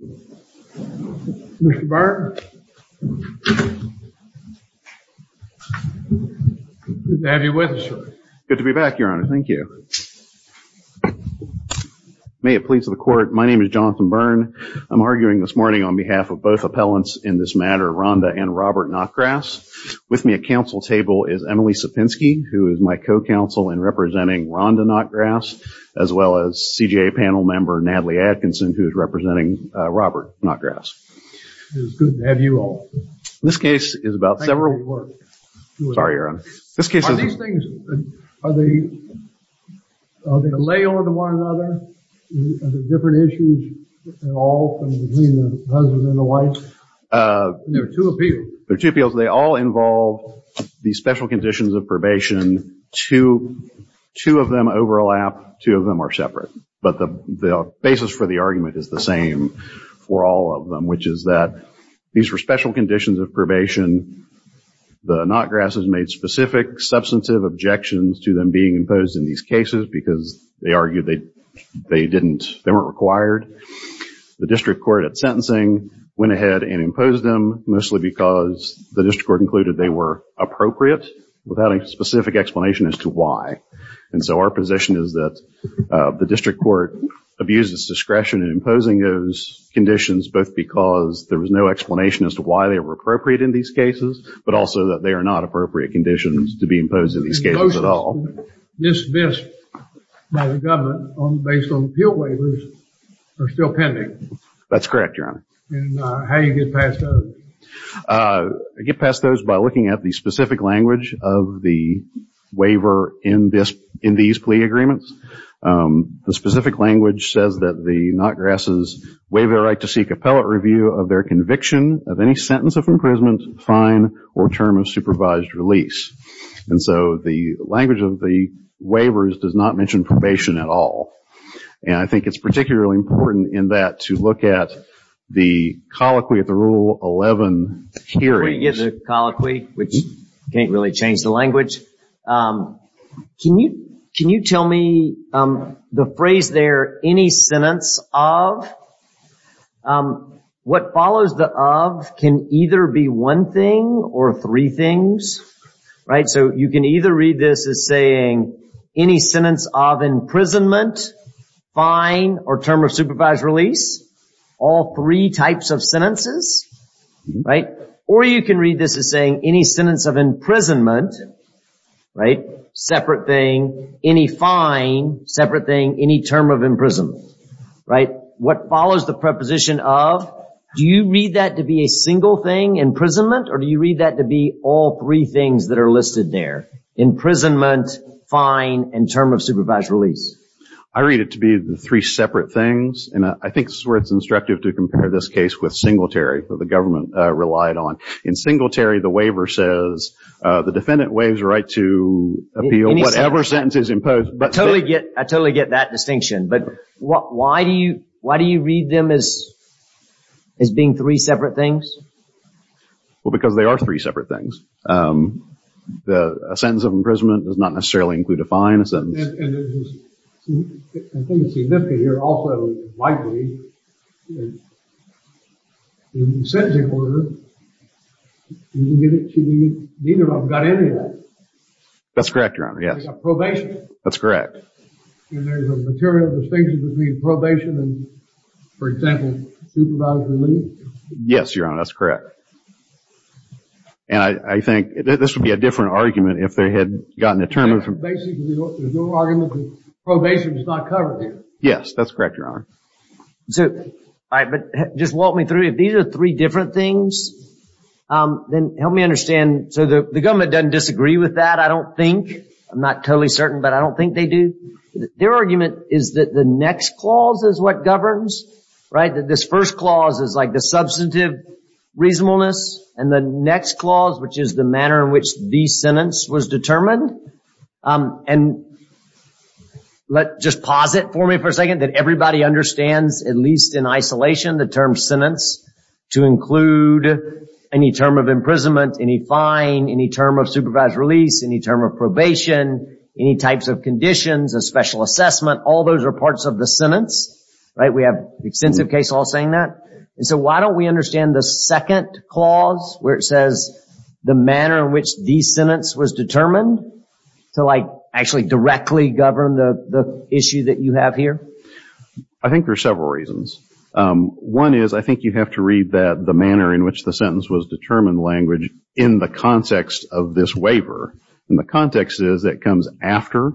Good to be back, your honor. Thank you. May it please the court, my name is Jonathan Byrne. I'm arguing this morning on behalf of both appellants in this matter, Rhonda and Robert Notgrass. With me at council table is Emily Sapinski, who is my co-counsel in representing Rhonda Notgrass, as well as CJA panel member Natalie Atkinson, who is representing Robert Notgrass. It is good to have you all. This case is about several... Sorry, your honor. This case is... Are these things, are they, are they a layover to one another? Are there different issues at all between the husband and the wife? There are two appeals. There are two appeals. They all involve the special conditions of probation. Two of them overlap. Two of them are separate. But the basis for the argument is the same for all of them, which is that these were special conditions of probation. The Notgrasses made specific substantive objections to them being imposed in these cases because they argued they didn't, they weren't required. The district court at sentencing went ahead and imposed them mostly because the district court included they were appropriate without a specific explanation as to why. And so our position is that the district court abuses discretion in imposing those conditions both because there was no explanation as to why they were appropriate in these cases, but also that they are not appropriate conditions to be imposed in these cases at all. Dismissed by the government based on appeal waivers are still pending. That's correct, your honor. And how do you get past those? I get past those by looking at the specific language of the waiver in these plea agreements. The specific language says that the Notgrasses waive their right to seek appellate review of their conviction of any sentence of imprisonment, fine, or term of supervised release. And so the language of the waivers does not mention probation at all. And I think it's particularly important in that to look at the colloquy at the Rule 11 period. Before you get to the colloquy, which can't really change the language, can you tell me the phrase there, any sentence of? What follows the of can either be one thing or three things, right? So you can either read this as saying any sentence of imprisonment, fine, or term of supervised release, all three types of sentences, right? Or you can read this as saying any sentence of imprisonment, right? Separate thing, any fine, separate thing, any term of imprisonment, right? What follows the preposition of, do you read that to be a single thing, imprisonment, or do you read that to be all three things that are listed there? Imprisonment, fine, and term of supervised release? I read it to be the three separate things. And I think this is where it's instructive to compare this case with Singletary that the government relied on. In Singletary, the waiver says the defendant waives the right to appeal whatever sentence is imposed. I totally get that distinction. But why do you read them as being three separate things? Well, because they are three separate things. A sentence of imprisonment does not necessarily include a fine, a sentence. And I think it's significant here also, likely, in sentencing order, you can get it to mean neither of them got any of that. That's correct, Your Honor, yes. It's a probation. That's correct. And there's a material distinction between probation and, for example, supervised release? Yes, Your Honor, that's correct. And I think this would be a different argument if they had gotten a term of... Basically, there's no argument that probation is not covered here. Yes, that's correct, Your Honor. All right, but just walk me through. If these are three different things, then help me understand. So the government doesn't disagree with that, I don't think. I'm not totally certain, but I don't think they do. Their argument is that the next clause is what governs, right? That this first clause is like the substantive reasonableness. And the next clause, which is the manner in which the sentence was determined. And just pause it for me for a second, that everybody understands, at least in isolation, the term sentence to include any term of imprisonment, any fine, any term of supervised release, any term of probation, any types of conditions, a special assessment. All those are parts of the sentence, right? We have extensive case law saying that. And so why don't we understand the second clause where it says the manner in which the sentence was determined to, like, actually directly govern the issue that you have here? I think there are several reasons. One is I think you have to read that the manner in which the sentence was determined language in the context of this waiver. And the context is it comes after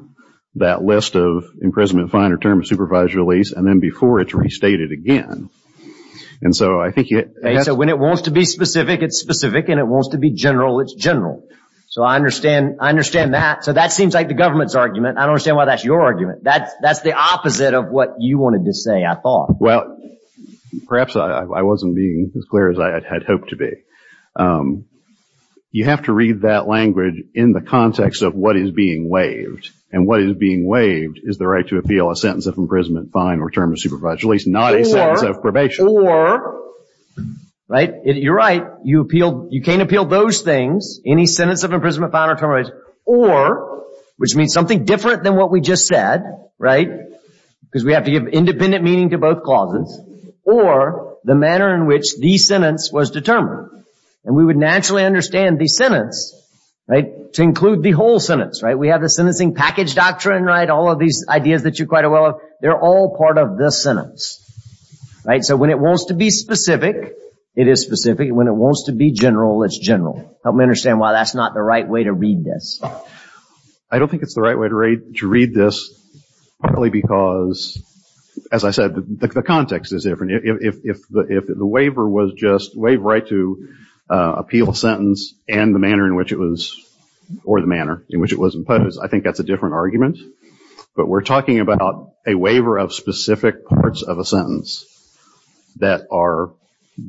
that list of imprisonment, fine, or term of supervised release, and then before it's restated again. And so I think it... When it wants to be specific, it's specific. And it wants to be general, it's general. So I understand that. So that seems like the government's argument. I don't understand why that's your argument. That's the opposite of what you wanted to say, I thought. Well, perhaps I wasn't being as clear as I had hoped to be. You have to read that language in the context of what is being waived. And what is being waived is the right to appeal a sentence of imprisonment, fine, or term of supervised release, not a sentence of probation. Or, right, you're right, you can't appeal those things, any sentence of imprisonment, fine, or term of imprisonment, or, which means something different than what we just said, right, because we have to give independent meaning to both clauses, or the manner in which the sentence was determined. And we would naturally understand the sentence, right, to include the whole sentence, right? We have the sentencing package doctrine, right, all of these ideas that you're quite aware of, they're all part of this sentence, right? So when it wants to be specific, it is specific, and when it wants to be general, it's general. Help me understand why that's not the right way to read this. I don't think it's the right way to read this, partly because, as I said, the context is different. If the waiver was just, waive right to appeal a sentence, and the manner in which it was, or the manner in which it was imposed, I think that's a different argument. But we're talking about a waiver of specific parts of a sentence that are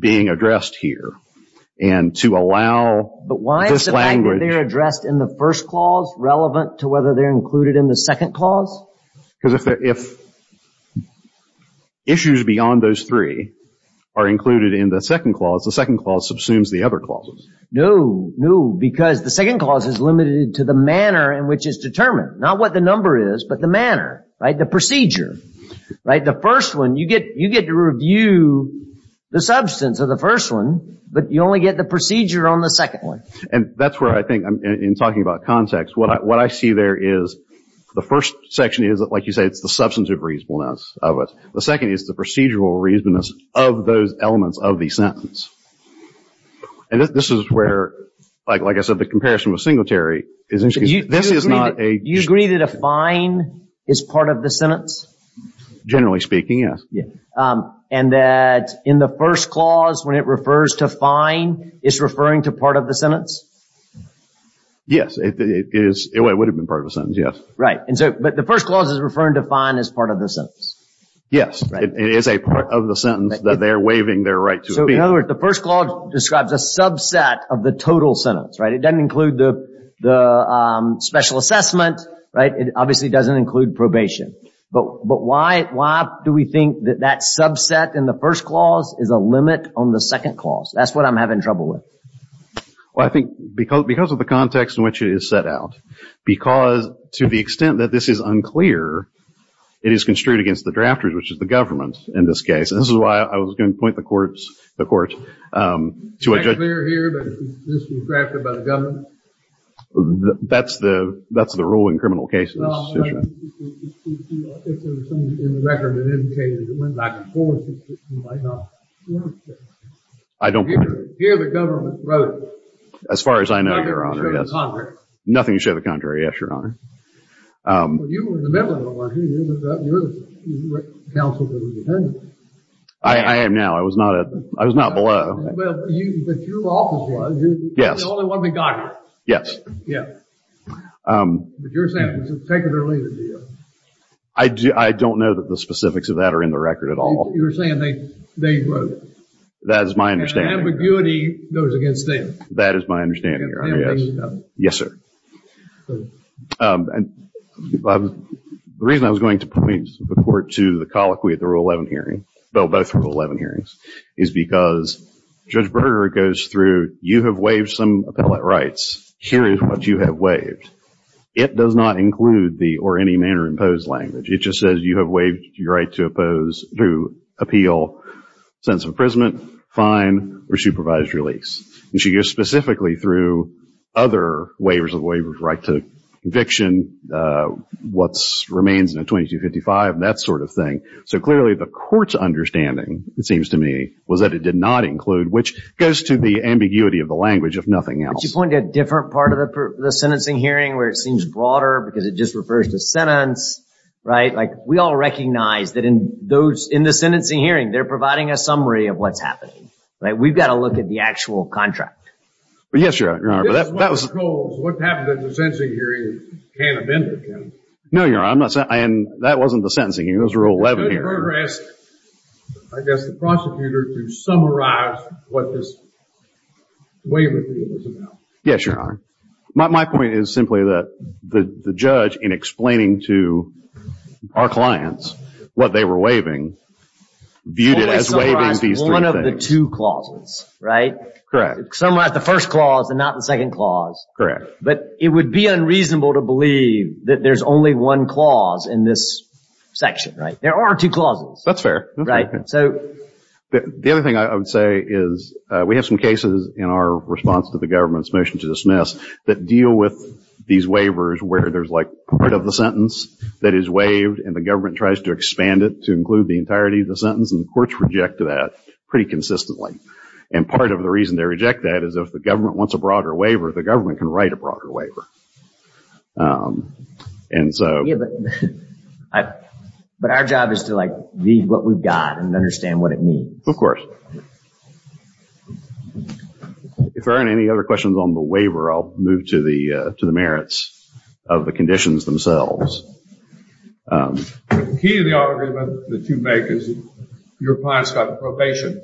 being addressed here. And to allow this language... But why is the language they addressed in the first clause relevant to whether they're included in the second clause? Because if issues beyond those three are included in the second clause, the second clause subsumes the other clauses. No, no, because the second clause is limited to the manner in which it's determined, not what the number is, but the manner, right, the procedure. Right, the first one, you get to review the substance of the first one, but you only get the procedure on the second one. And that's where I think, in talking about context, what I see there is the first section is, like you say, it's the substantive reasonableness of it. The second is the procedural reasonableness of those elements of the sentence. And this is where, like I said, the comparison with Singletary is interesting. This is not a... Do you agree that a fine is part of the sentence? Generally speaking, yes. And that in the first clause, when it refers to fine, it's referring to part of the sentence? Yes, it would have been part of the sentence, yes. Right, but the first clause is referring to fine as part of the sentence. Yes, it is a part of the sentence that they're waiving their right to speak. So, in other words, the first clause describes a subset of the total sentence, right? It doesn't include the special assessment, right? It obviously doesn't include probation. But why do we think that that subset in the first clause is a limit on the second clause? That's what I'm having trouble with. Well, I think because of the context in which it is set out. Because to the extent that this is unclear, it is construed against the drafters, which is the government in this case. And this is why I was going to point the court to a judge. It's unclear here that this was drafted by the government? That's the rule in criminal cases. Well, I think there's something in the record that indicated it went back and forth. You might not want that. I don't mind. Here the government wrote it. As far as I know, Your Honor, yes. Nothing to show the contrary. Nothing to show the contrary, yes, Your Honor. Well, you were in the middle of it, weren't you? You're the counsel to the defense. I am now. I was not below. Well, but your office was. Yes. You're the only one that got it. Yes. Yeah. But you're saying it was taken early, did you? I don't know that the specifics of that are in the record at all. You're saying they wrote it. That is my understanding. And ambiguity goes against them. That is my understanding, Your Honor, yes. Yes, Your Honor. Yes, sir. The reason I was going to point the court to the colloquy at the Rule 11 hearing, both Rule 11 hearings, is because Judge Berger goes through, you have waived some appellate rights. Here is what you have waived. It does not include the or any manner imposed language. It just says you have waived your right to oppose through appeal, sentence of imprisonment, fine, or supervised release. And she goes specifically through other waivers of the waiver of right to conviction, what remains in a 2255, that sort of thing. So clearly the court's understanding, it seems to me, was that it did not include, which goes to the ambiguity of the language, if nothing else. But you point to a different part of the sentencing hearing where it seems broader because it just refers to sentence, right? Like we all recognize that in the sentencing hearing, they're providing a summary of what's happening. Right? We've got to look at the actual contract. Yes, Your Honor. This is one of the goals. What happened in the sentencing hearing can't amend it, can it? No, Your Honor. That wasn't the sentencing hearing. That was Rule 11 hearing. Judge Berger asked, I guess, the prosecutor to summarize what this waiver deal was about. Yes, Your Honor. My point is simply that the judge, in explaining to our clients what they were waiving, viewed it as waiving these three things. One of the two clauses, right? Correct. Summarize the first clause and not the second clause. Correct. But it would be unreasonable to believe that there's only one clause in this section, right? There are two clauses. That's fair. Right? The other thing I would say is we have some cases in our response to the government's motion to dismiss that deal with these waivers where there's like part of the sentence that is waived and the government tries to expand it to include the entirety of the sentence and the courts reject that pretty consistently. And part of the reason they reject that is if the government wants a broader waiver, the government can write a broader waiver. But our job is to read what we've got and understand what it means. Of course. If there aren't any other questions on the waiver, I'll move to the merits of the conditions themselves. The key to the argument that you make is your client's got probation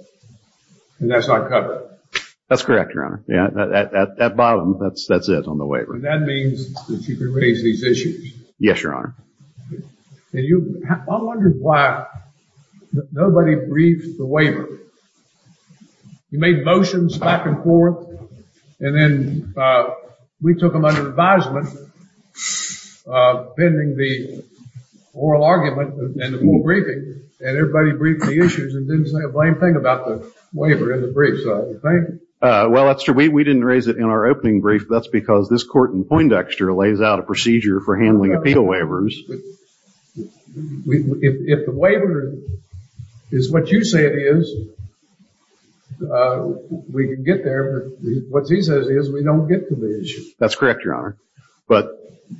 and that's not covered. That's correct, Your Honor. At bottom, that's it on the waiver. And that means that you can raise these issues. Yes, Your Honor. I wonder why nobody briefed the waiver. You made motions back and forth, and then we took them under advisement, pending the oral argument and the full briefing, and everybody briefed the issues and didn't say a blame thing about the waiver in the brief. So you think? Well, that's true. We didn't raise it in our opening brief. That's because this court in Poindexter lays out a procedure for handling appeal waivers. If the waiver is what you say it is, we can get there. But what he says is we don't get to the issue. That's correct, Your Honor. But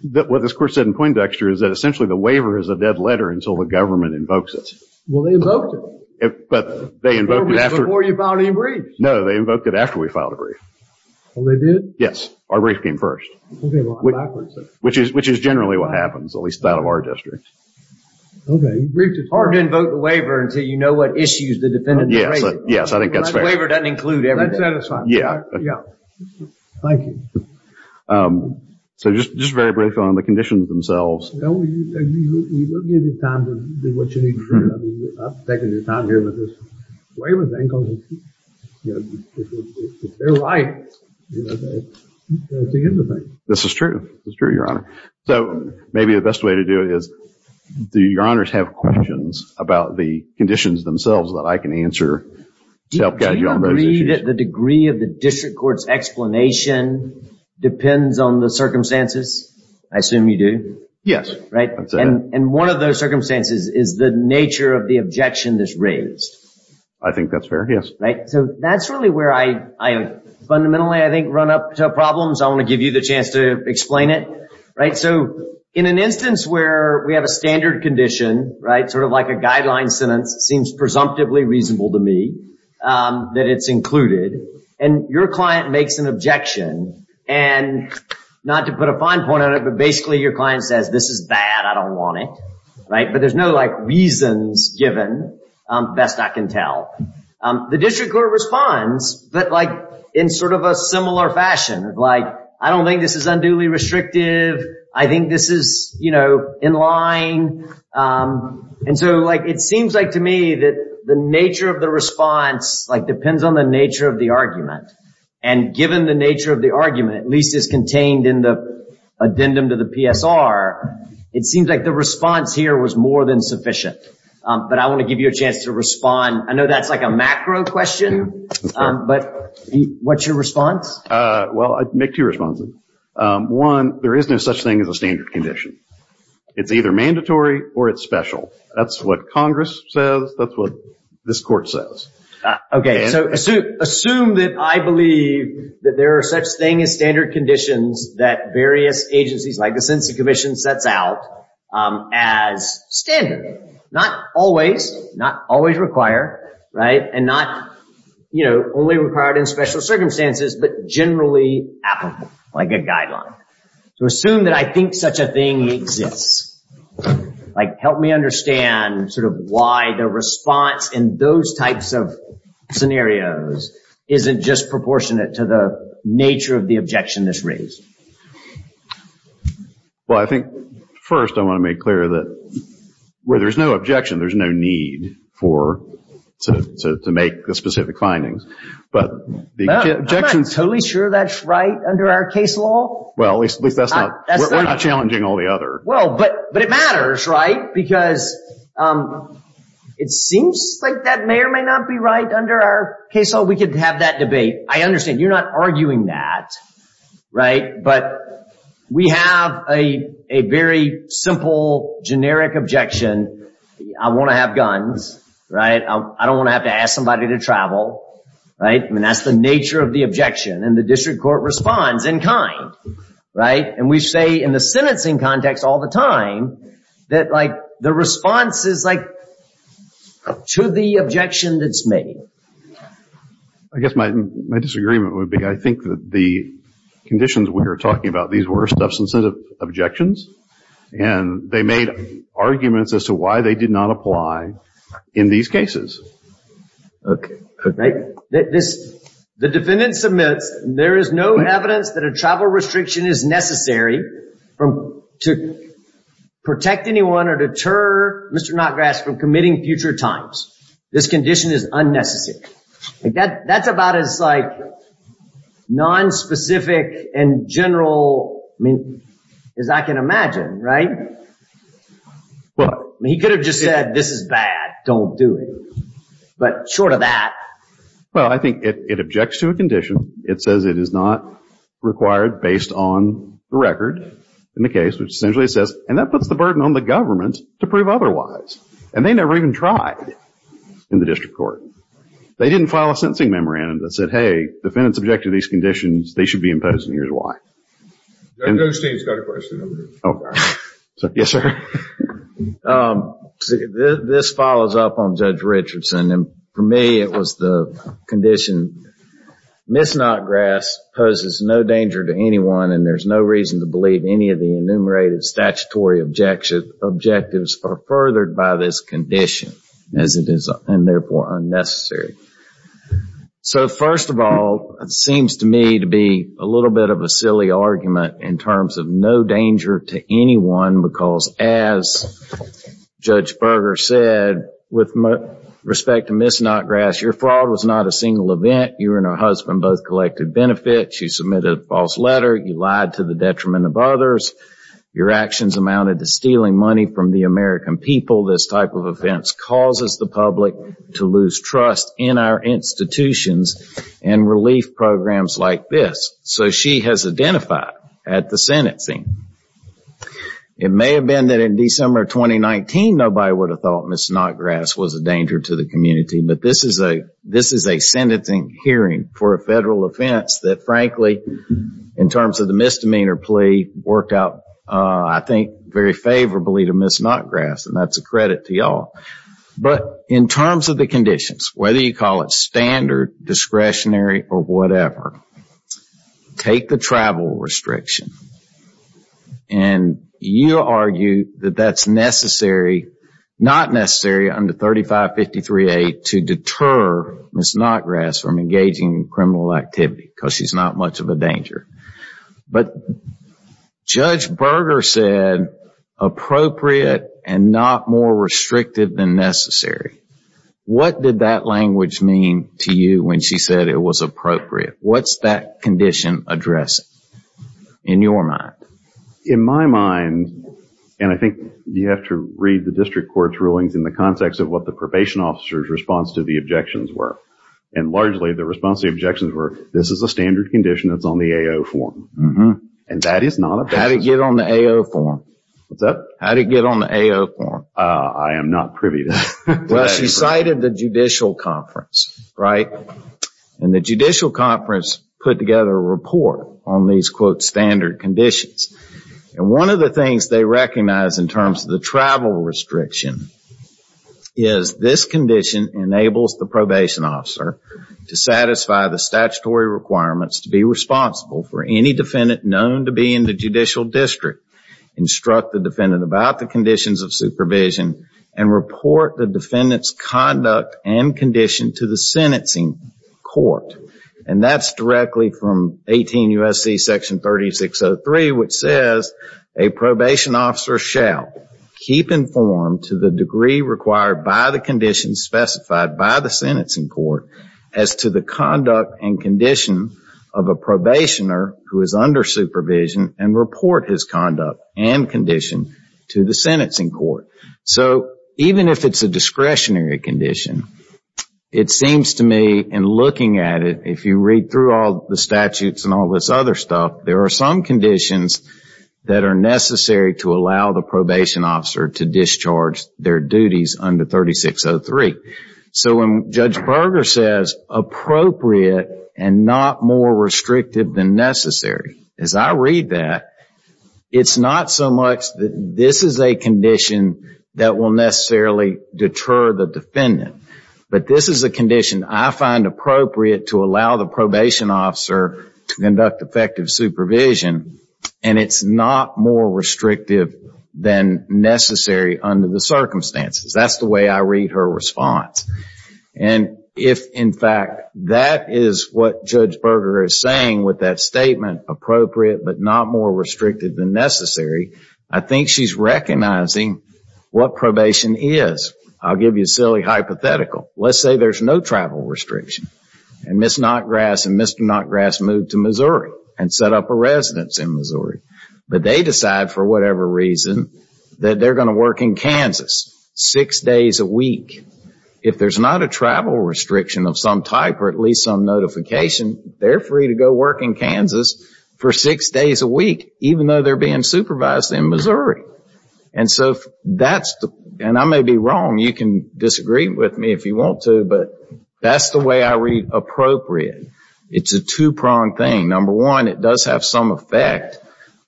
what this court said in Poindexter is that essentially the waiver is a dead letter until the government invokes it. Well, they invoked it. But they invoked it after. Before you filed any briefs. No, they invoked it after we filed a brief. Oh, they did? Yes. Our brief came first. Okay, well, I'm backwards then. Which is generally what happens, at least that of our district. Okay, you briefed it first. It's hard to invoke the waiver until you know what issues the defendant has raised. Yes, I think that's fair. The waiver doesn't include everything. That's satisfying. Yeah. Thank you. So just very briefly on the conditions themselves. We will give you time to do what you need to do. I'm taking your time here with this. Waivers, they're right. It's the end of things. This is true. It's true, Your Honor. So maybe the best way to do it is do Your Honors have questions about the conditions themselves that I can answer to help guide you on those issues? Do you agree that the degree of the district court's explanation depends on the circumstances? I assume you do? Yes. Right? I'd say that. And one of those circumstances is the nature of the objection that's raised. I think that's fair. Right? So that's really where I fundamentally, I think, run up to problems. I want to give you the chance to explain it. Right? So in an instance where we have a standard condition, right, sort of like a guideline sentence, seems presumptively reasonable to me that it's included, and your client makes an objection, and not to put a fine point on it, but basically your client says, this is bad. I don't want it. Right? But there's no, like, reasons given, best I can tell. The district court responds, but, like, in sort of a similar fashion. Like, I don't think this is unduly restrictive. I think this is, you know, in line. And so, like, it seems like to me that the nature of the response, like, depends on the nature of the argument. And given the nature of the argument, at least as contained in the addendum to the PSR, it seems like the response here was more than sufficient. But I want to give you a chance to respond. I know that's like a macro question, but what's your response? Well, I'd make two responses. One, there is no such thing as a standard condition. It's either mandatory or it's special. That's what Congress says. That's what this court says. So assume that I believe that there are such things as standard conditions that various agencies, like the Census Commission, sets out as standard. Not always. Not always required. Right? And not, you know, only required in special circumstances, but generally applicable, like a guideline. So assume that I think such a thing exists. Like, help me understand, sort of, why the response in those types of scenarios isn't just proportionate to the nature of the objection that's raised. Well, I think, first, I want to make clear that where there's no objection, there's no need for, to make the specific findings. But the objection— I'm not totally sure that's right under our case law. Well, at least that's not—we're not challenging all the other— Well, but it matters, right? Because it seems like that may or may not be right under our case law. We could have that debate. I understand. You're not arguing that. Right? But we have a very simple, generic objection. I want to have guns. Right? I don't want to have to ask somebody to travel. Right? I mean, that's the nature of the objection, and the district court responds in kind. Right? And we say in the sentencing context all the time that, like, the response is, like, to the objection that's made. I guess my disagreement would be, I think that the conditions we are talking about, these were substantive objections. And they made arguments as to why they did not apply in these cases. Okay. Right? The defendant submits, there is no evidence that a travel restriction is necessary to protect anyone or deter Mr. Notgrass from committing future times. This condition is unnecessary. That's about as, like, nonspecific and general, I mean, as I can imagine. Right? But— Now, this is bad. Don't do it. But short of that— Well, I think it objects to a condition. It says it is not required based on the record in the case, which essentially says—and that puts the burden on the government to prove otherwise. And they never even tried in the district court. They didn't file a sentencing memorandum that said, hey, the defendant is subject to these conditions. They should be imposed, and here's why. Judge Osteen's got a question over here. Oh. Yes, sir. This follows up on Judge Richardson. And for me, it was the condition, Ms. Notgrass poses no danger to anyone, and there's no reason to believe any of the enumerated statutory objectives are furthered by this condition, as it is, and therefore, unnecessary. So, first of all, it seems to me to be a little bit of a silly argument in terms of no danger to anyone because, as Judge Berger said, with respect to Ms. Notgrass, your fraud was not a single event. You and her husband both collected benefits. You submitted a false letter. You lied to the detriment of others. Your actions amounted to stealing money from the American people. This type of offense causes the public to lose trust in our institutions and relief programs like this. So, she has identified at the sentencing. It may have been that in December 2019, nobody would have thought Ms. Notgrass was a danger to the community, but this is a sentencing hearing for a federal offense that, frankly, in terms of the misdemeanor plea, worked out, I think, very favorably to Ms. Notgrass. And that's a credit to y'all. But in terms of the conditions, whether you call it standard, discretionary, or whatever, take the travel restriction, and you argue that that's necessary, not necessary, under 3553A to deter Ms. Notgrass from engaging in criminal activity because she's not much of a danger. But Judge Berger said appropriate and not more restrictive than necessary. What did that language mean to you when she said it was appropriate? What's that condition addressing in your mind? In my mind, and I think you have to read the district court's rulings in the context of what the probation officer's response to the objections were. And largely, the response to the objections were, this is a standard condition that's on the AO form. And that is not a bad thing. How did it get on the AO form? What's that? How did it get on the AO form? I am not privy to that. Well, she cited the judicial conference, right? And the judicial conference put together a report on these, quote, standard conditions. And one of the things they recognized in terms of the travel restriction is this condition enables the probation officer to satisfy the statutory requirements to be responsible for any defendant known to be in the judicial district, instruct the defendant about the conditions of supervision, and report the defendant's conduct and condition to the sentencing court. And that's directly from 18 U.S.C. section 3603, which says, a probation officer shall keep informed to the degree required by the conditions specified by the sentencing court as to the conduct and condition of a probationer who is under supervision and report his conduct and condition to the sentencing court. So, even if it's a discretionary condition, it seems to me in looking at it, if you read through all the statutes and all this other stuff, there are some conditions that are necessary to allow the probation officer to discharge their duties under 3603. So, when Judge Berger says, appropriate and not more restrictive than necessary, as I read that, it's not so much that this is a condition that will necessarily deter the defendant, but this is a condition I find appropriate to allow the probation officer to conduct effective supervision, and it's not more restrictive than necessary under the circumstances. That's the way I read her response. And if, in fact, that is what Judge Berger is saying with that statement, appropriate but not more restrictive than necessary, I think she's recognizing what probation is. I'll give you a silly hypothetical. Let's say there's no travel restriction, and Ms. Notgrass and Mr. Notgrass move to Missouri and set up a residence in Missouri, but they decide, for whatever reason, that they're going to work in Kansas six days a week. If there's not a travel restriction of some type, or at least some notification, they're free to go work in Kansas for six days a week, even though they're being supervised in Missouri. And I may be wrong. You can disagree with me if you want to, but that's the way I read appropriate. It's a two-pronged thing. Number one, it does have some effect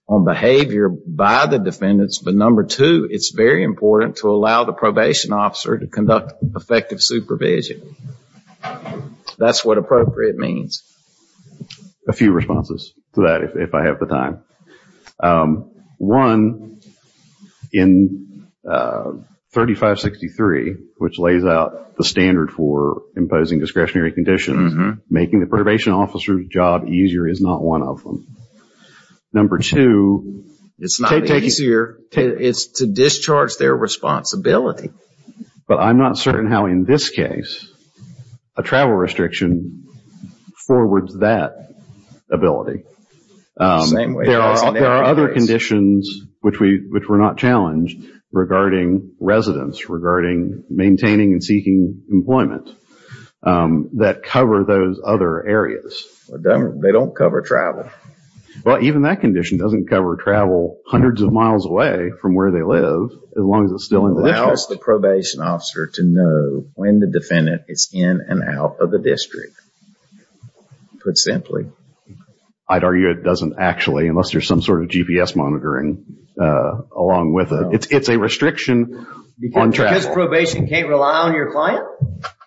on behavior by the defendants, but number two, it's very important to allow the probation officer to conduct effective supervision. That's what appropriate means. A few responses to that, if I have the time. One, in 3563, which lays out the standard for imposing discretionary conditions, making the probation officer's job easier is not one of them. Number two, it's to discharge their responsibility. But I'm not certain how, in this case, a travel restriction forwards that ability. There are other conditions, which we're not challenged, regarding residence, regarding maintaining and seeking employment, that cover those other areas. They don't cover travel. Well, even that condition doesn't cover travel hundreds of miles away from where they live, as long as it's still in the district. It allows the probation officer to know when the defendant is in and out of the district, put simply. I'd argue it doesn't actually, unless there's some sort of GPS monitoring along with it. It's a restriction on travel. Because probation can't rely on your client?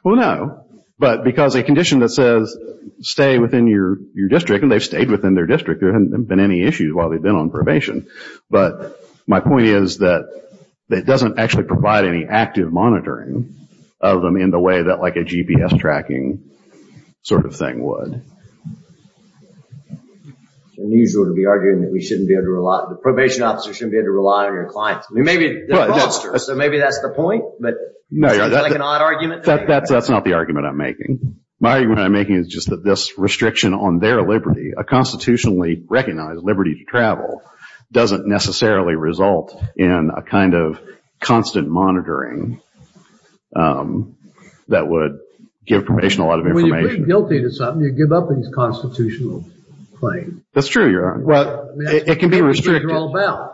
Well, no. But because a condition that says, stay within your district, and they've stayed within their district. There haven't been any issues while they've been on probation. But my point is that it doesn't actually provide any active monitoring of them in the way that a GPS tracking sort of thing would. It's unusual to be arguing that the probation officer shouldn't be able to rely on your client. Maybe that's the point, but is that an odd argument? That's not the argument I'm making. My argument I'm making is just that this restriction on their liberty, a constitutionally recognized liberty to travel, doesn't necessarily result in a kind of constant monitoring that would give probation a lot of information. Well, you're pretty guilty to something. You give up these constitutional claims. That's true, Your Honor. Well, it can be restricted. I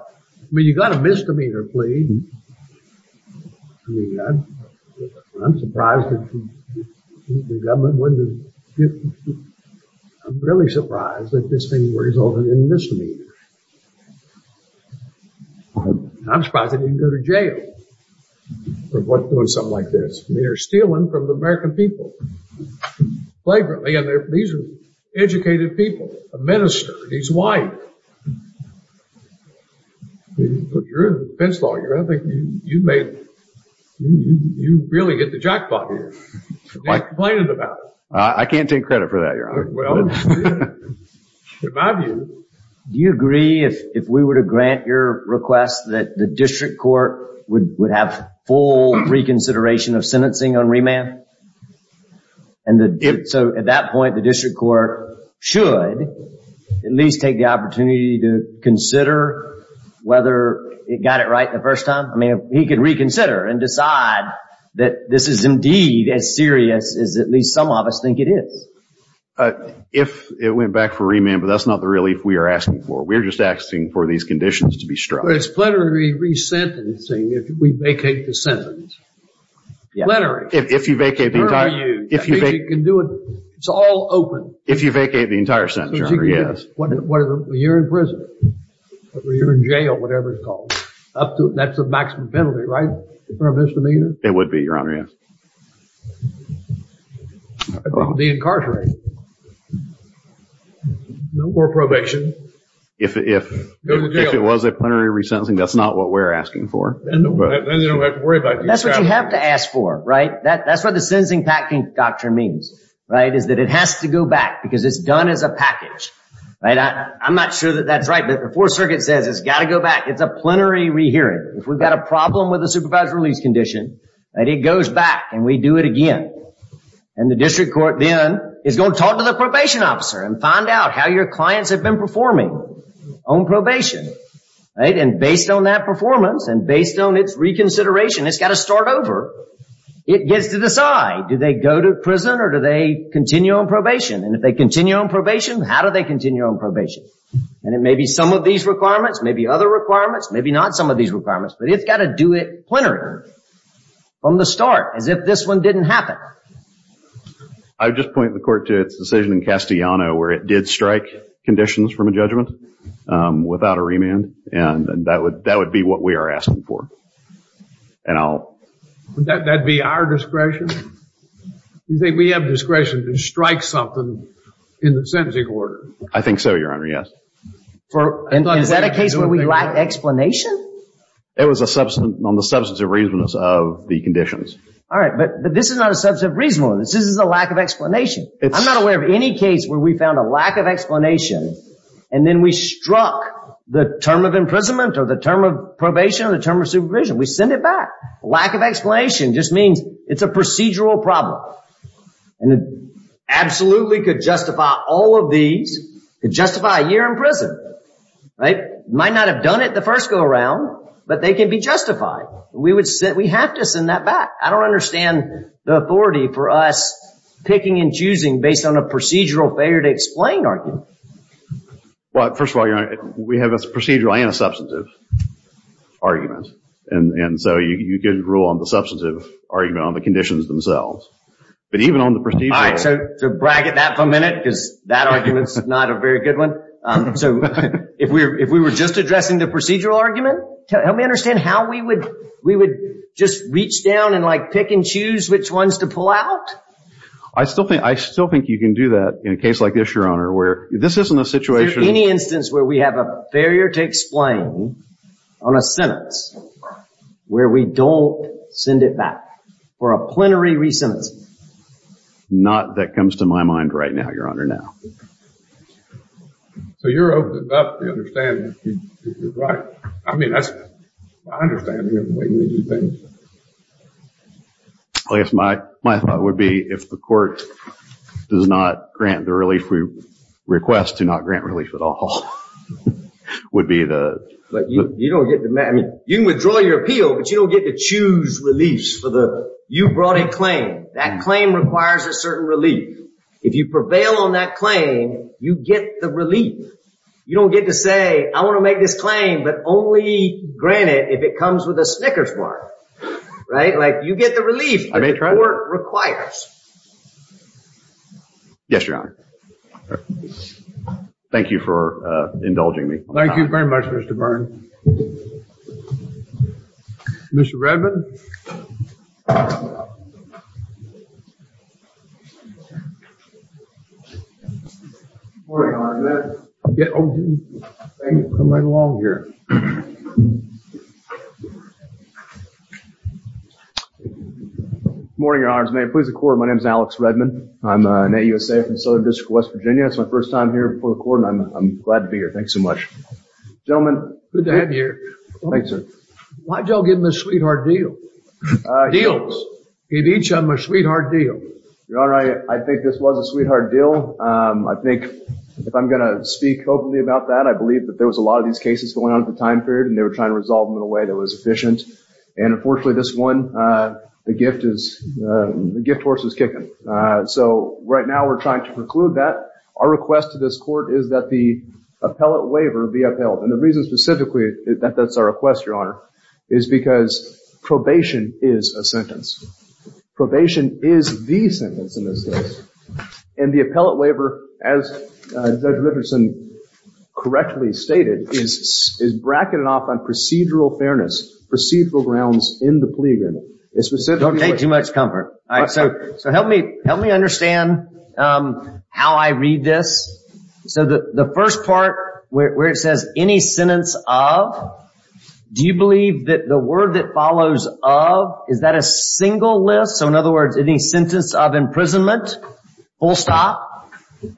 mean, you've got a misdemeanor plea. I mean, I'm surprised that the government wouldn't have given it to you. I'm really surprised that this thing resulted in a misdemeanor. I'm surprised they didn't go to jail for doing something like this. They're stealing from the American people. These are educated people. A minister and his wife. You're a defense lawyer. I think you really hit the jackpot here. I can't complain about it. I can't take credit for that, Your Honor. Well, in my view. Do you agree if we were to grant your request that the district court would have full reconsideration of sentencing on remand? So at that point, the district court should at least take the opportunity to consider whether it got it right the first time? I mean, if he could reconsider and decide that this is indeed as serious as at least some of us think it is. If it went back for remand, but that's not the relief we are asking for. We're just asking for these conditions to be strong. But it's plenary resentencing if we vacate the sentence. Plenary. If you vacate the entire sentence. It's all open. If you vacate the entire sentence, Your Honor, yes. You're in prison. You're in jail, whatever it's called. That's the maximum penalty, right? It would be, Your Honor, yes. Deincarcerated. No more probation. If it was a plenary resentencing, that's not what we're asking for. Then you don't have to worry about it. That's what you have to ask for, right? That's what the sentencing packing doctrine means, right? Is that it has to go back because it's done as a package. I'm not sure that that's right, but the Fourth Circuit says it's got to go back. It's a plenary rehearing. If we've got a problem with the supervised release condition, it goes back and we do it again. And the district court then is going to talk to the probation officer and find out how your clients have been performing on probation. And based on that performance and based on its reconsideration, it's got to start over. It gets to decide, do they go to prison or do they continue on probation? And if they continue on probation, how do they continue on probation? And it may be some of these requirements, maybe other requirements, maybe not some of these requirements, but it's got to do it plenary from the start as if this one didn't happen. I would just point the court to its decision in Castellano where it did strike conditions from a judgment without a remand. And that would be what we are asking for. Would that be our discretion? You think we have discretion to strike something in the sentencing order? I think so, Your Honor, yes. Is that a case where we lack explanation? It was on the substantive reasons of the conditions. All right, but this is not a substantive reason. This is a lack of explanation. I'm not aware of any case where we found a lack of explanation and then we struck the term of imprisonment or the term of probation or the term of supervision. We send it back. Lack of explanation just means it's a procedural problem. And it absolutely could justify all of these, could justify a year in prison. Might not have done it the first go around, but they can be justified. We have to send that back. I don't understand the authority for us picking and choosing based on a procedural failure to explain argument. Well, first of all, Your Honor, we have a procedural and a substantive argument. And so you can rule on the substantive argument on the conditions themselves. But even on the procedural... All right, so to bracket that for a minute because that argument is not a very good one. So if we were just addressing the procedural argument, help me understand how we would just reach down and pick and choose which ones to pull out? I still think you can do that in a case like this, Your Honor, where this isn't a situation... Is there any instance where we have a failure to explain on a sentence where we don't send it back for a plenary re-sentence? Not that comes to my mind right now, Your Honor, now. So you're open about the understanding, if you're right. I mean, that's my understanding of the way we do things. I guess my thought would be if the court does not grant the relief request to not grant relief at all, would be the... You can withdraw your appeal, but you don't get to choose reliefs for the... You brought a claim. That claim requires a certain relief. If you prevail on that claim, you get the relief. You don't get to say, I want to make this claim, but only grant it if it comes with a Snickers bar. Right? Like you get the relief the court requires. Yes, Your Honor. Thank you for indulging me. Thank you very much, Mr. Byrne. Mr. Redmond. Good morning, Your Honor. Come right along here. Good morning, Your Honor. May it please the court, my name is Alex Redmond. I'm an AUSA from the Southern District of West Virginia. It's my first time here before the court, and I'm glad to be here. Thanks so much. Gentlemen. Good to have you here. Thanks, sir. Why'd y'all give him this sweetheart deal? Deals. Give each of them a sweetheart deal. Your Honor, I think this was a sweetheart deal. I think if I'm going to speak openly about that, I believe that there was a lot of these cases going on at the time period, and they were trying to resolve them in a way that was efficient. And unfortunately, this one, the gift horse is kicking. So right now we're trying to preclude that. Our request to this court is that the appellate waiver be upheld. And the reason specifically that that's our request, Your Honor, is because probation is a sentence. Probation is the sentence in this case. And the appellate waiver, as Judge Riverson correctly stated, is bracketed off on procedural fairness, procedural grounds in the plea agreement. Don't take too much comfort. All right. So help me understand how I read this. So the first part where it says any sentence of, do you believe that the word that follows of, is that a single list? So in other words, any sentence of imprisonment, full stop,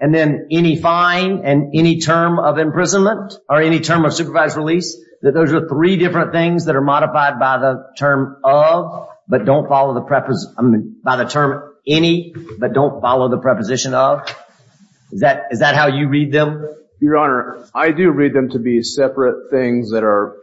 and then any fine and any term of imprisonment or any term of supervised release, that those are three different things that are modified by the term of, but don't follow the, by the term any, but don't follow the preposition of. Is that how you read them? Your Honor, I do read them to be separate things that are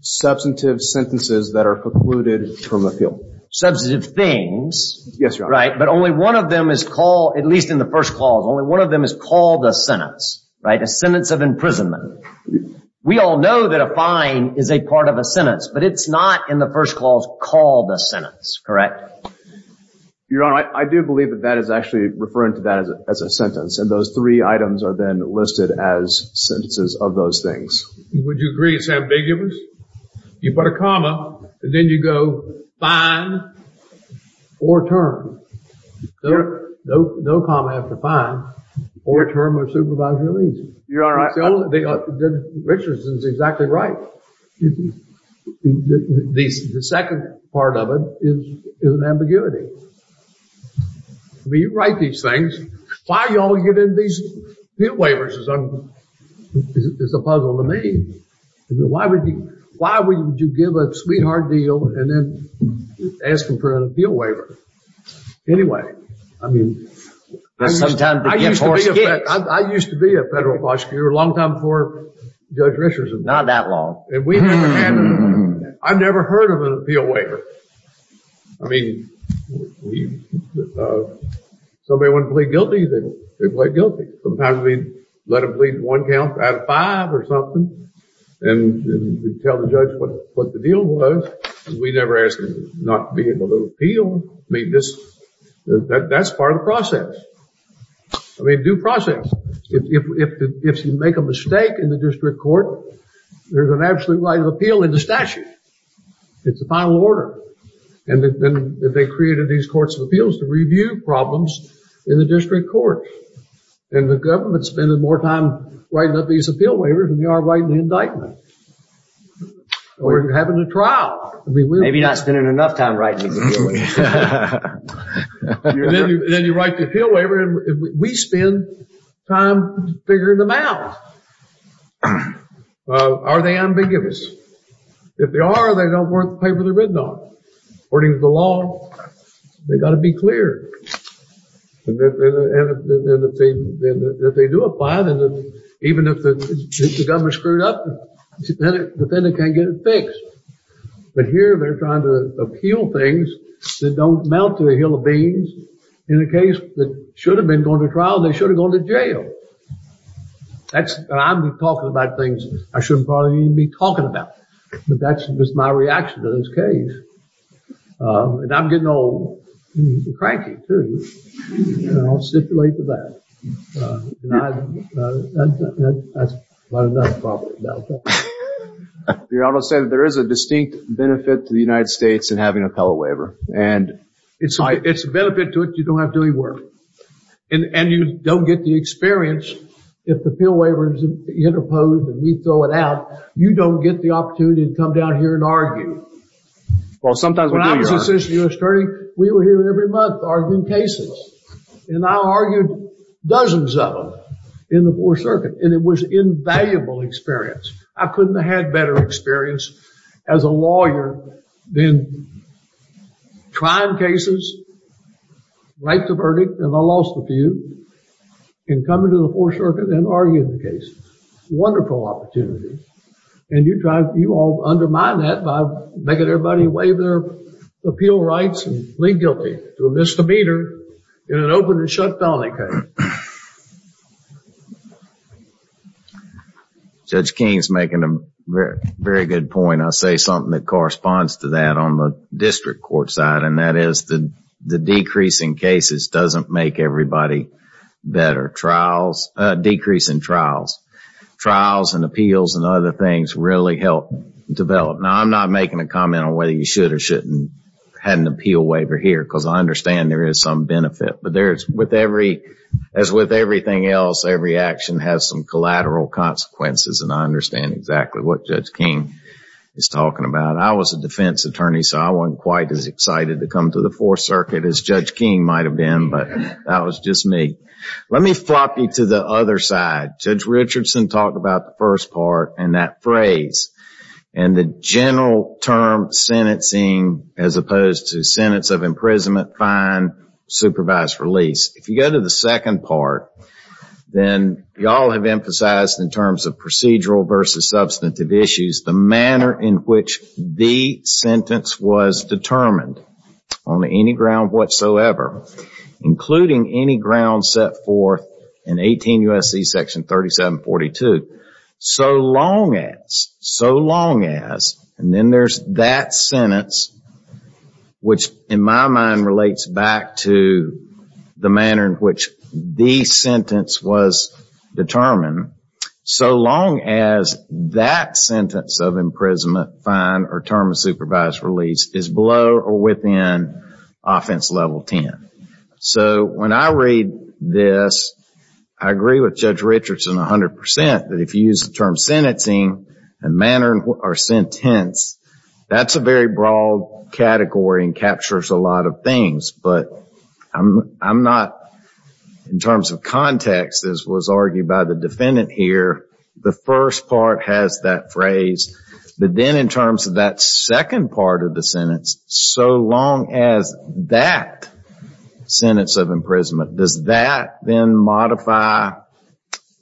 substantive sentences that are precluded from appeal. Substantive things. Yes, Your Honor. Right. But only one of them is called, at least in the first clause, only one of them is called a sentence. Right. A sentence of imprisonment. We all know that a fine is a part of a sentence, but it's not in the first clause called a sentence, correct? Your Honor, I do believe that that is actually referring to that as a sentence, and those three items are then listed as sentences of those things. Would you agree it's ambiguous? You put a comma, and then you go fine or term. No comma after fine or term of supervised release. Your Honor, I think Richardson's exactly right. The second part of it is an ambiguity. I mean, you write these things. Why y'all get in these appeal waivers is a puzzle to me. Why would you give a sweetheart deal and then ask them for an appeal waiver? Anyway, I mean. I used to be a federal prosecutor a long time before Judge Richardson. Not that long. I've never heard of an appeal waiver. I mean, somebody wanted to plead guilty, they plead guilty. Sometimes we let them plead one count out of five or something, and we tell the judge what the deal was. We never ask them not to be able to appeal. I mean, that's part of the process. I mean, due process. If you make a mistake in the district court, there's an absolute right of appeal in the statute. It's a final order. And they created these courts of appeals to review problems in the district court. And the government's spending more time writing up these appeal waivers than they are writing the indictment. We're having a trial. Maybe not spending enough time writing the appeal waiver. Then you write the appeal waiver, and we spend time figuring them out. Are they ambiguous? If they are, they don't work the paper they're written on. According to the law, they've got to be clear. And if they do apply, even if the government screwed up, the defendant can't get it fixed. But here, they're trying to appeal things that don't amount to a hill of beans. In a case that should have been going to trial, they should have gone to jail. I'm talking about things I shouldn't probably even be talking about. But that's just my reaction to this case. And I'm getting all cranky, too. And I'll stipulate to that. You're almost saying that there is a distinct benefit to the United States in having an appeal waiver. It's a benefit to it. You don't have to do any work. And you don't get the experience. If the appeal waiver is interposed and we throw it out, you don't get the opportunity to come down here and argue. Well, sometimes we do, Your Honor. When I was assistant U.S. attorney, we were here every month arguing cases. And I argued dozens of them in the Fourth Circuit. And it was invaluable experience. I couldn't have had better experience as a lawyer than trying cases, write the verdict, and I lost a few, and come into the Fourth Circuit and argue the case. Wonderful opportunity. And you all undermine that by making everybody waive their appeal rights and plead guilty to a misdemeanor in an open and shut felony case. Judge King's making a very good point. I'll say something that corresponds to that on the district court side. And that is the decrease in cases doesn't make everybody better. Decrease in trials. Trials and appeals and other things really help develop. Now, I'm not making a comment on whether you should or shouldn't have an appeal waiver here. Because I understand there is some benefit. But as with everything else, every action has some collateral consequences. And I understand exactly what Judge King is talking about. I was a defense attorney, so I wasn't quite as excited to come to the Fourth Circuit as Judge King might have been. But that was just me. Let me flop you to the other side. Judge Richardson talked about the first part and that phrase. And the general term sentencing as opposed to sentence of imprisonment, fine, supervised release. If you go to the second part, then you all have emphasized in terms of procedural versus substantive issues, the manner in which the sentence was determined on any ground whatsoever. Including any ground set forth in 18 U.S.C. section 3742. So long as, so long as, and then there's that sentence, which in my mind relates back to the manner in which the sentence was determined. So long as that sentence of imprisonment, fine, or term of supervised release is below or within offense level 10. So when I read this, I agree with Judge Richardson 100% that if you use the term sentencing and manner or sentence, that's a very broad category and captures a lot of things. But I'm not, in terms of context, as was argued by the defendant here, the first part has that phrase. But then in terms of that second part of the sentence, so long as that sentence of imprisonment, does that then modify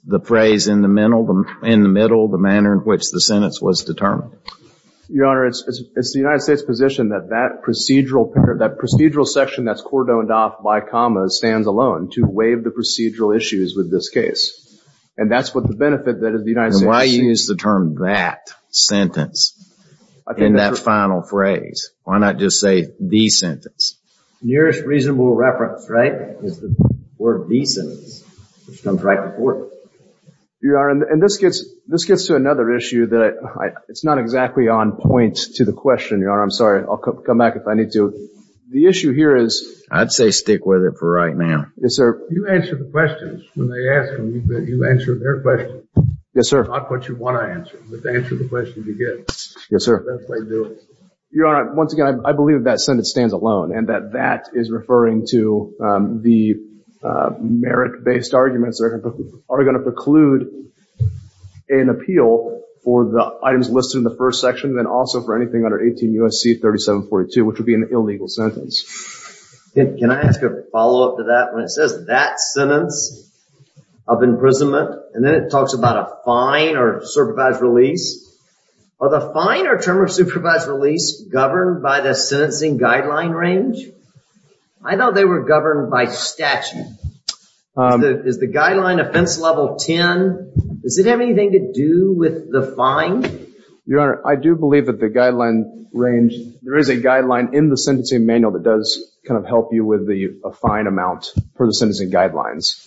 the phrase in the middle, the manner in which the sentence was determined? Your Honor, it's the United States' position that that procedural section that's cordoned off by commas stands alone to waive the procedural issues with this case. And that's what the benefit that is the United States. And why use the term that sentence in that final phrase? Why not just say the sentence? Nearest reasonable reference, right, is the word the sentence, which comes right before it. Your Honor, and this gets to another issue that it's not exactly on point to the question, Your Honor. I'm sorry. I'll come back if I need to. The issue here is. I'd say stick with it for right now. Yes, sir. You answer the questions. When they ask them, you answer their questions. Yes, sir. Not what you want to answer, but to answer the questions you get. Yes, sir. That's what I do. Your Honor, once again, I believe that sentence stands alone and that that is referring to the merit-based arguments that are going to preclude an appeal for the items listed in the first section, and also for anything under 18 U.S.C. 3742, which would be an illegal sentence. Can I ask a follow-up to that? When it says that sentence of imprisonment, and then it talks about a fine or supervised release, are the fine or term of supervised release governed by the sentencing guideline range? I thought they were governed by statute. Is the guideline offense level 10? Does it have anything to do with the fine? Your Honor, I do believe that the guideline range. There is a guideline in the sentencing manual that does kind of help you with the fine amount for the sentencing guidelines.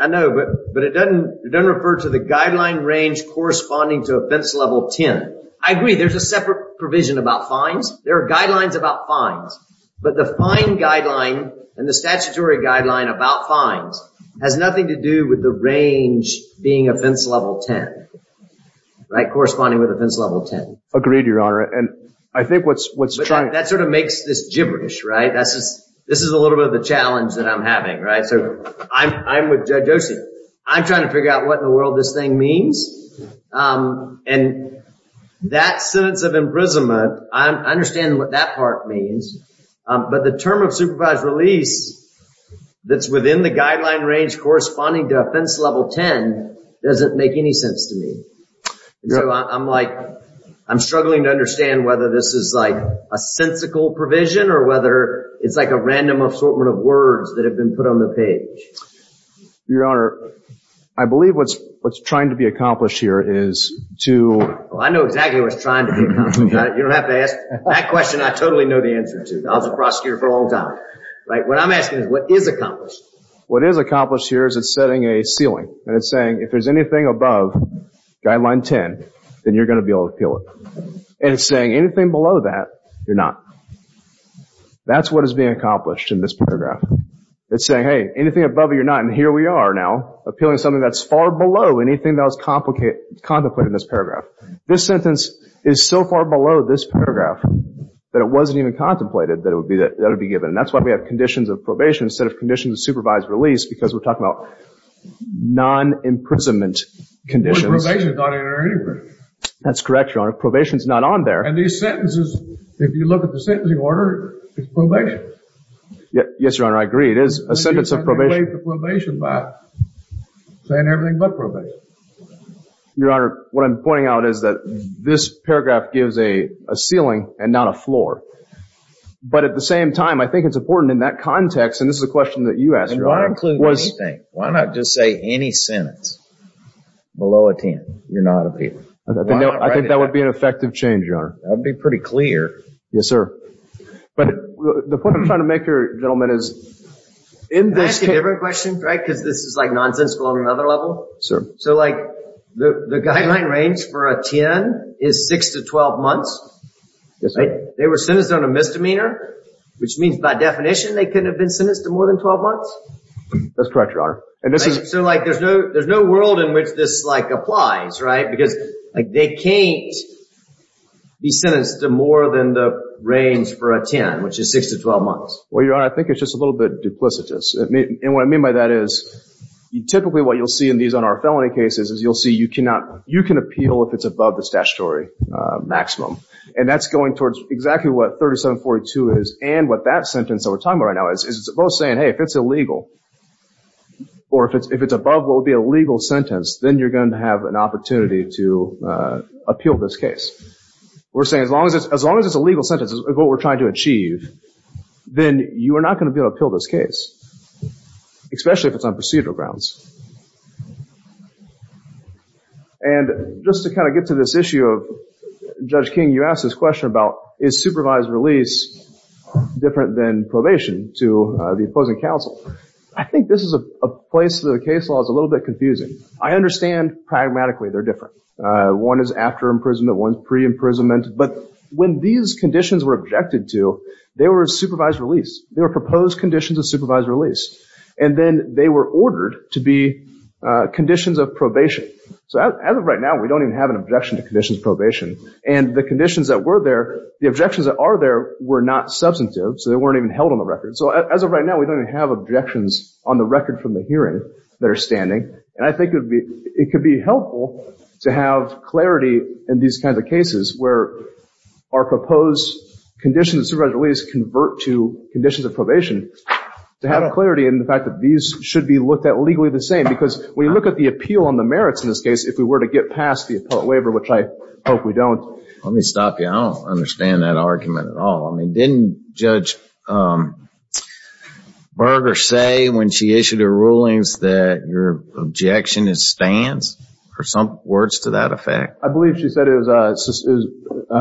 I know, but it doesn't refer to the guideline range corresponding to offense level 10. I agree. There's a separate provision about fines. There are guidelines about fines. But the fine guideline and the statutory guideline about fines has nothing to do with the range being offense level 10, right, corresponding with offense level 10. Agreed, Your Honor. And I think what's trying to— That sort of makes this gibberish, right? This is a little bit of a challenge that I'm having, right? So I'm with Judge Osi. I'm trying to figure out what in the world this thing means. And that sentence of imprisonment, I understand what that part means. But the term of supervised release that's within the guideline range corresponding to offense level 10 doesn't make any sense to me. So I'm like, I'm struggling to understand whether this is like a sensical provision or whether it's like a random assortment of words that have been put on the page. Your Honor, I believe what's trying to be accomplished here is to— I know exactly what's trying to be accomplished. You don't have to ask. That question I totally know the answer to. I was a prosecutor for a long time. What I'm asking is what is accomplished? What is accomplished here is it's setting a ceiling. And it's saying if there's anything above guideline 10, then you're going to be able to appeal it. And it's saying anything below that, you're not. That's what is being accomplished in this paragraph. It's saying, hey, anything above it, you're not. And here we are now appealing something that's far below anything that was contemplated in this paragraph. This sentence is so far below this paragraph that it wasn't even contemplated that it would be given. And that's why we have conditions of probation instead of conditions of supervised release because we're talking about non-imprisonment conditions. But probation is not in there anyway. That's correct, Your Honor. Probation is not on there. And these sentences, if you look at the sentencing order, it's probation. Yes, Your Honor. I agree. It is a sentence of probation. You can replace the probation by saying everything but probation. Your Honor, what I'm pointing out is that this paragraph gives a ceiling and not a floor. But at the same time, I think it's important in that context, and this is a question that you asked, Your Honor. And why include anything? Why not just say any sentence below a 10? You're not appealing. I think that would be an effective change, Your Honor. That would be pretty clear. Yes, sir. But the point I'm trying to make here, gentlemen, is in this case— Can I ask you a different question, Greg, because this is like nonsensical on another level? Sure. So, like, the guideline range for a 10 is 6 to 12 months. Yes, sir. They were sentenced on a misdemeanor, which means by definition they couldn't have been sentenced to more than 12 months? That's correct, Your Honor. So, like, there's no world in which this, like, applies, right? Because, like, they can't be sentenced to more than the range for a 10, which is 6 to 12 months. Well, Your Honor, I think it's just a little bit duplicitous. And what I mean by that is typically what you'll see in these N.R. felony cases is you'll see you cannot— you can appeal if it's above the statutory maximum. And that's going towards exactly what 3742 is and what that sentence that we're talking about right now is. It's both saying, hey, if it's illegal or if it's above what would be a legal sentence, then you're going to have an opportunity to appeal this case. We're saying as long as it's a legal sentence is what we're trying to achieve, then you are not going to be able to appeal this case, especially if it's on procedural grounds. And just to kind of get to this issue of Judge King, you asked this question about is supervised release different than probation to the opposing counsel. I think this is a place where the case law is a little bit confusing. I understand pragmatically they're different. One is after imprisonment. One is pre-imprisonment. But when these conditions were objected to, they were supervised release. They were proposed conditions of supervised release. And then they were ordered to be conditions of probation. So as of right now, we don't even have an objection to conditions of probation. And the conditions that were there, the objections that are there were not substantive, so they weren't even held on the record. So as of right now, we don't even have objections on the record from the hearing that are standing. And I think it could be helpful to have clarity in these kinds of cases where our proposed conditions of supervised release convert to conditions of probation to have clarity in the fact that these should be looked at legally the same. Because when you look at the appeal on the merits in this case, if we were to get past the appellate waiver, which I hope we don't. Let me stop you. I don't understand that argument at all. I mean, didn't Judge Berger say when she issued her rulings that your objection is stands? Or some words to that effect? I believe she said it was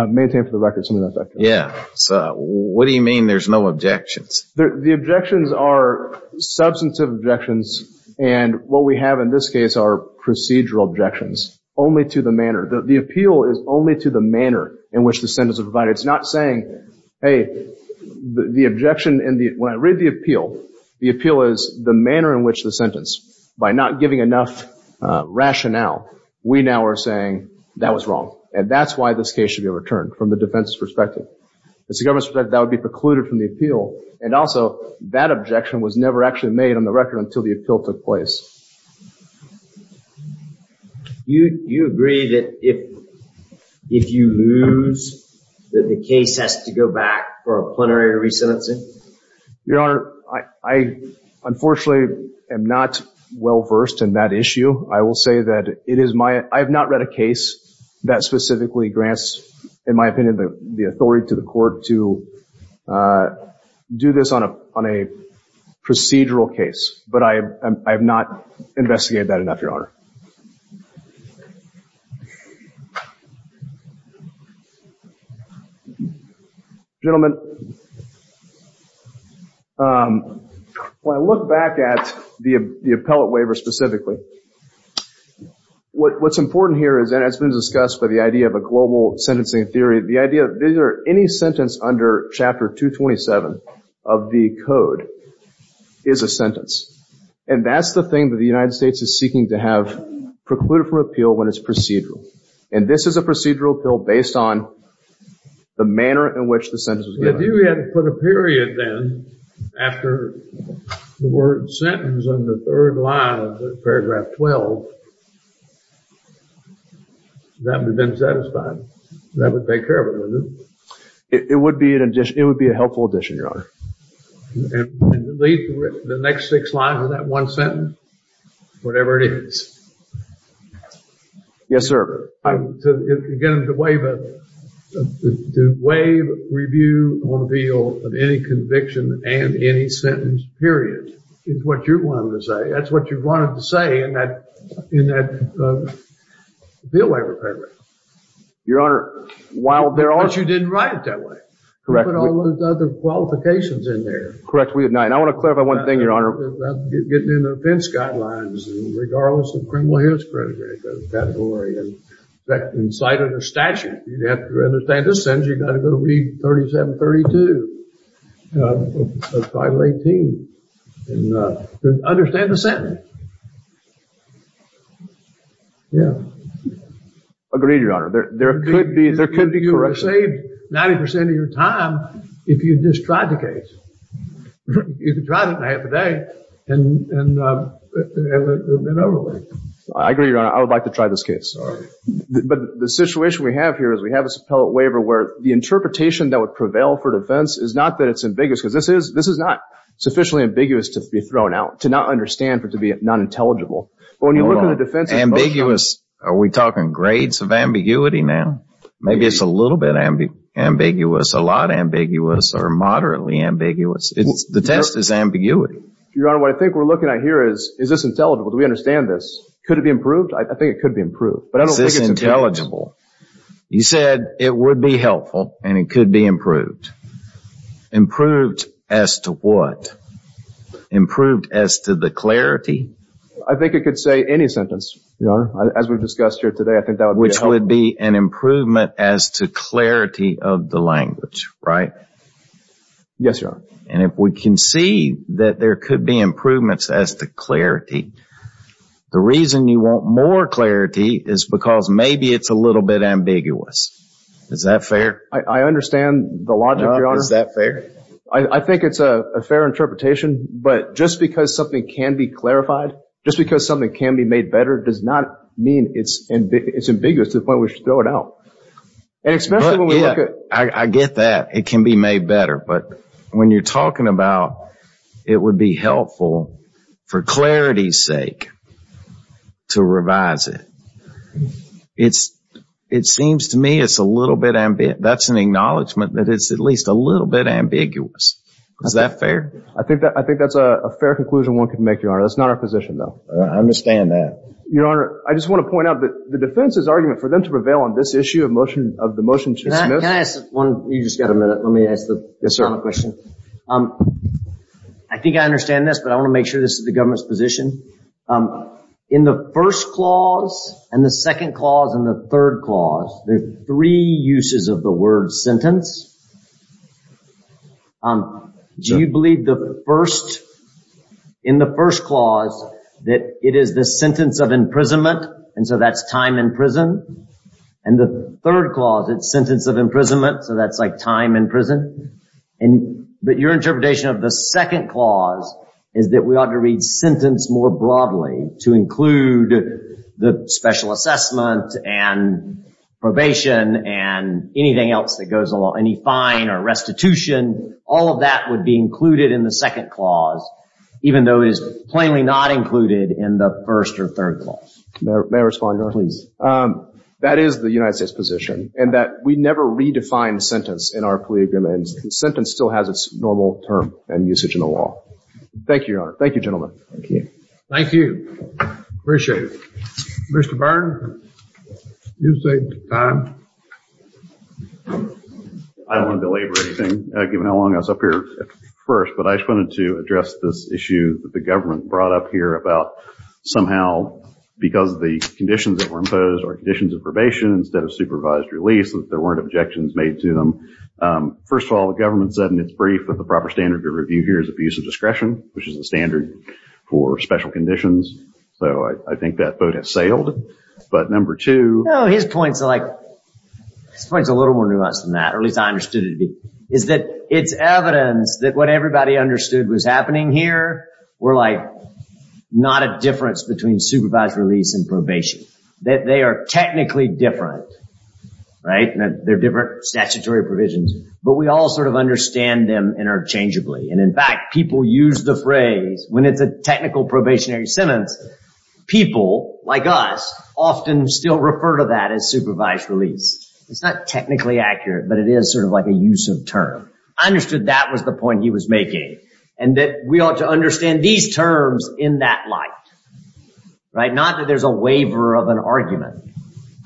maintained for the record, something to that effect. Yeah. So what do you mean there's no objections? The objections are substantive objections. And what we have in this case are procedural objections only to the manner. The appeal is only to the manner in which the sentence is provided. It's not saying, hey, the objection in the – when I read the appeal, the appeal is the manner in which the sentence. By not giving enough rationale, we now are saying that was wrong. And that's why this case should be returned from the defense's perspective. It's the government's perspective that would be precluded from the appeal. And also, that objection was never actually made on the record until the appeal took place. You agree that if you lose, that the case has to go back for a plenary resentencing? Your Honor, I unfortunately am not well versed in that issue. I will say that it is my – I have not read a case that specifically grants, in my opinion, the authority to the court to do this on a procedural case. But I have not investigated that enough, Your Honor. Gentlemen, when I look back at the appellate waiver specifically, what's important here is, and it's been discussed by the idea of a global sentencing theory, the idea that any sentence under Chapter 227 of the Code is a sentence. And that's the thing that the United States is seeking to have precluded from appeal when it's procedural. And this is a procedural appeal based on the manner in which the sentence was given. If you had put a period then after the word sentence on the third line of Paragraph 12, that would have been satisfied. That would take care of it, wouldn't it? It would be a helpful addition, Your Honor. And the next six lines of that one sentence, whatever it is. Yes, sir. Again, to waive a – to waive review on appeal of any conviction and any sentence, period, is what you wanted to say. That's what you wanted to say in that – in that appeal waiver paragraph. Your Honor, while there are – But you didn't write it that way. Correct. You put all those other qualifications in there. Correct, we did not. And I want to clarify one thing, Your Honor. Getting into offense guidelines, regardless of criminal history category. In fact, in sight of the statute, you'd have to understand the sentence. You've got to go read 3732 of Title 18 and understand the sentence. Yeah. Agreed, Your Honor. There could be – there could be corrections. You could have saved 90% of your time if you just tried the case. You could drive it a half a day and it would have been over with. I agree, Your Honor. I would like to try this case. All right. But the situation we have here is we have this appellate waiver where the interpretation that would prevail for defense is not that it's ambiguous. Because this is – this is not sufficiently ambiguous to be thrown out, to not understand, but to be non-intelligible. But when you look at the defense – Ambiguous. Are we talking grades of ambiguity now? Maybe it's a little bit ambiguous. A lot ambiguous or moderately ambiguous. The test is ambiguity. Your Honor, what I think we're looking at here is, is this intelligible? Do we understand this? Could it be improved? I think it could be improved. But I don't think it's intelligible. You said it would be helpful and it could be improved. Improved as to what? Improved as to the clarity? I think it could say any sentence, Your Honor. As we've discussed here today, I think that would be helpful. Improvement as to clarity of the language, right? Yes, Your Honor. And if we can see that there could be improvements as to clarity, the reason you want more clarity is because maybe it's a little bit ambiguous. Is that fair? I understand the logic, Your Honor. Is that fair? I think it's a fair interpretation. But just because something can be clarified, just because something can be made better does not mean it's ambiguous to the point where we should throw it out. I get that. It can be made better. But when you're talking about it would be helpful for clarity's sake to revise it, it seems to me that's an acknowledgment that it's at least a little bit ambiguous. Is that fair? I think that's a fair conclusion one could make, Your Honor. That's not our position, though. I understand that. Your Honor, I just want to point out that the defense's argument for them to prevail on this issue of the motion to dismiss. Can I ask one? You just got a minute. Let me ask the final question. Yes, sir. I think I understand this, but I want to make sure this is the government's position. In the first clause, and the second clause, and the third clause, there are three uses of the word sentence. Do you believe in the first clause that it is the sentence of imprisonment, and so that's time in prison? And the third clause, it's sentence of imprisonment, so that's like time in prison? But your interpretation of the second clause is that we ought to read sentence more broadly to include the special assessment, and probation, and anything else that goes along, any fine or restitution. All of that would be included in the second clause, even though it is plainly not included in the first or third clause. May I respond, Your Honor? Please. That is the United States position, and that we never redefine sentence in our plea agreements. Sentence still has its normal term and usage in the law. Thank you, Your Honor. Thank you, gentlemen. Thank you. Appreciate it. Mr. Byrne, you saved time. I don't want to delaborate anything, given how long I was up here at first, but I just wanted to address this issue that the government brought up here about somehow, because of the conditions that were imposed or conditions of probation instead of supervised release, that there weren't objections made to them. First of all, the government said in its brief that the proper standard to review here is abuse of discretion, which is the standard for special conditions, so I think that vote has sailed. But number two— No, his point's a little more nuanced than that, or at least I understood it to be. —is that it's evidence that what everybody understood was happening here were like not a difference between supervised release and probation, that they are technically different, right? They're different statutory provisions, but we all sort of understand them interchangeably. And, in fact, people use the phrase, when it's a technical probationary sentence, people, like us, often still refer to that as supervised release. It's not technically accurate, but it is sort of like a use of term. I understood that was the point he was making, and that we ought to understand these terms in that light, right? Not that there's a waiver of an argument.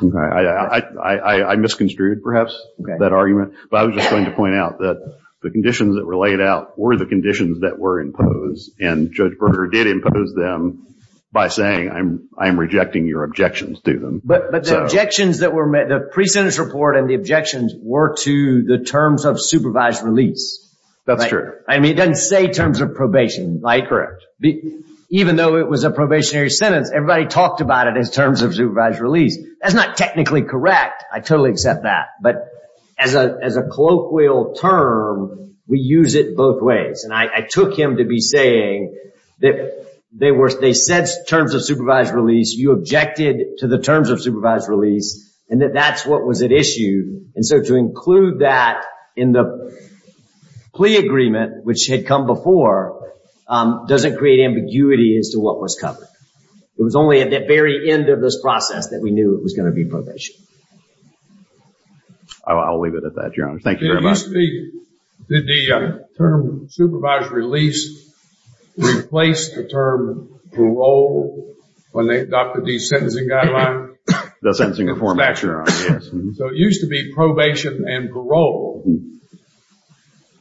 I misconstrued, perhaps, that argument. But I was just going to point out that the conditions that were laid out were the conditions that were imposed, and Judge Berger did impose them by saying, I am rejecting your objections to them. —But the objections that were—the pre-sentence report and the objections were to the terms of supervised release. —That's true. —I mean, it doesn't say terms of probation, right? —Correct. —Even though it was a probationary sentence, everybody talked about it as terms of supervised release. That's not technically correct. I totally accept that. But as a colloquial term, we use it both ways. And I took him to be saying that they said terms of supervised release. You objected to the terms of supervised release, and that that's what was at issue. And so to include that in the plea agreement, which had come before, doesn't create ambiguity as to what was covered. It was only at the very end of this process that we knew it was going to be probation. —I'll leave it at that, Your Honor. Thank you very much. —Did the term supervised release replace the term parole when they adopted the sentencing guideline? —The sentencing reform. —So it used to be probation and parole.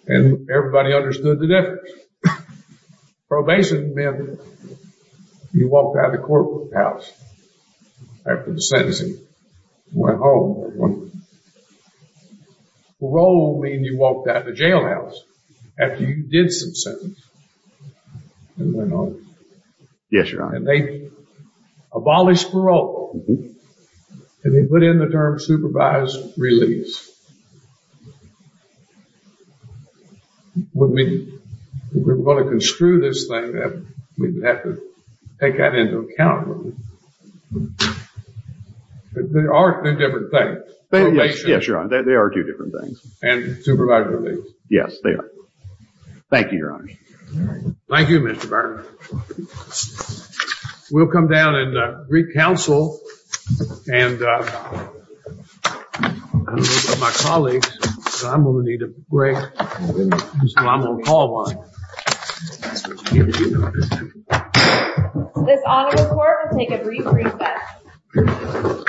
And everybody understood the difference. Probation meant you walked out of the courthouse after the sentencing and went home. Parole meant you walked out of the jailhouse after you did some sentencing and went home. —Yes, Your Honor. —And they abolished parole. And they put in the term supervised release. We're going to construe this thing. We have to take that into account. —There are two different things. Probation. —Yes, Your Honor. There are two different things. —And supervised release. —Yes, there are. Thank you, Your Honor. —Thank you, Mr. Byrne. We'll come down and re-counsel. And I don't know about my colleagues, but I'm going to need a break, so I'm going to call one. —This honorable court will take a brief recess.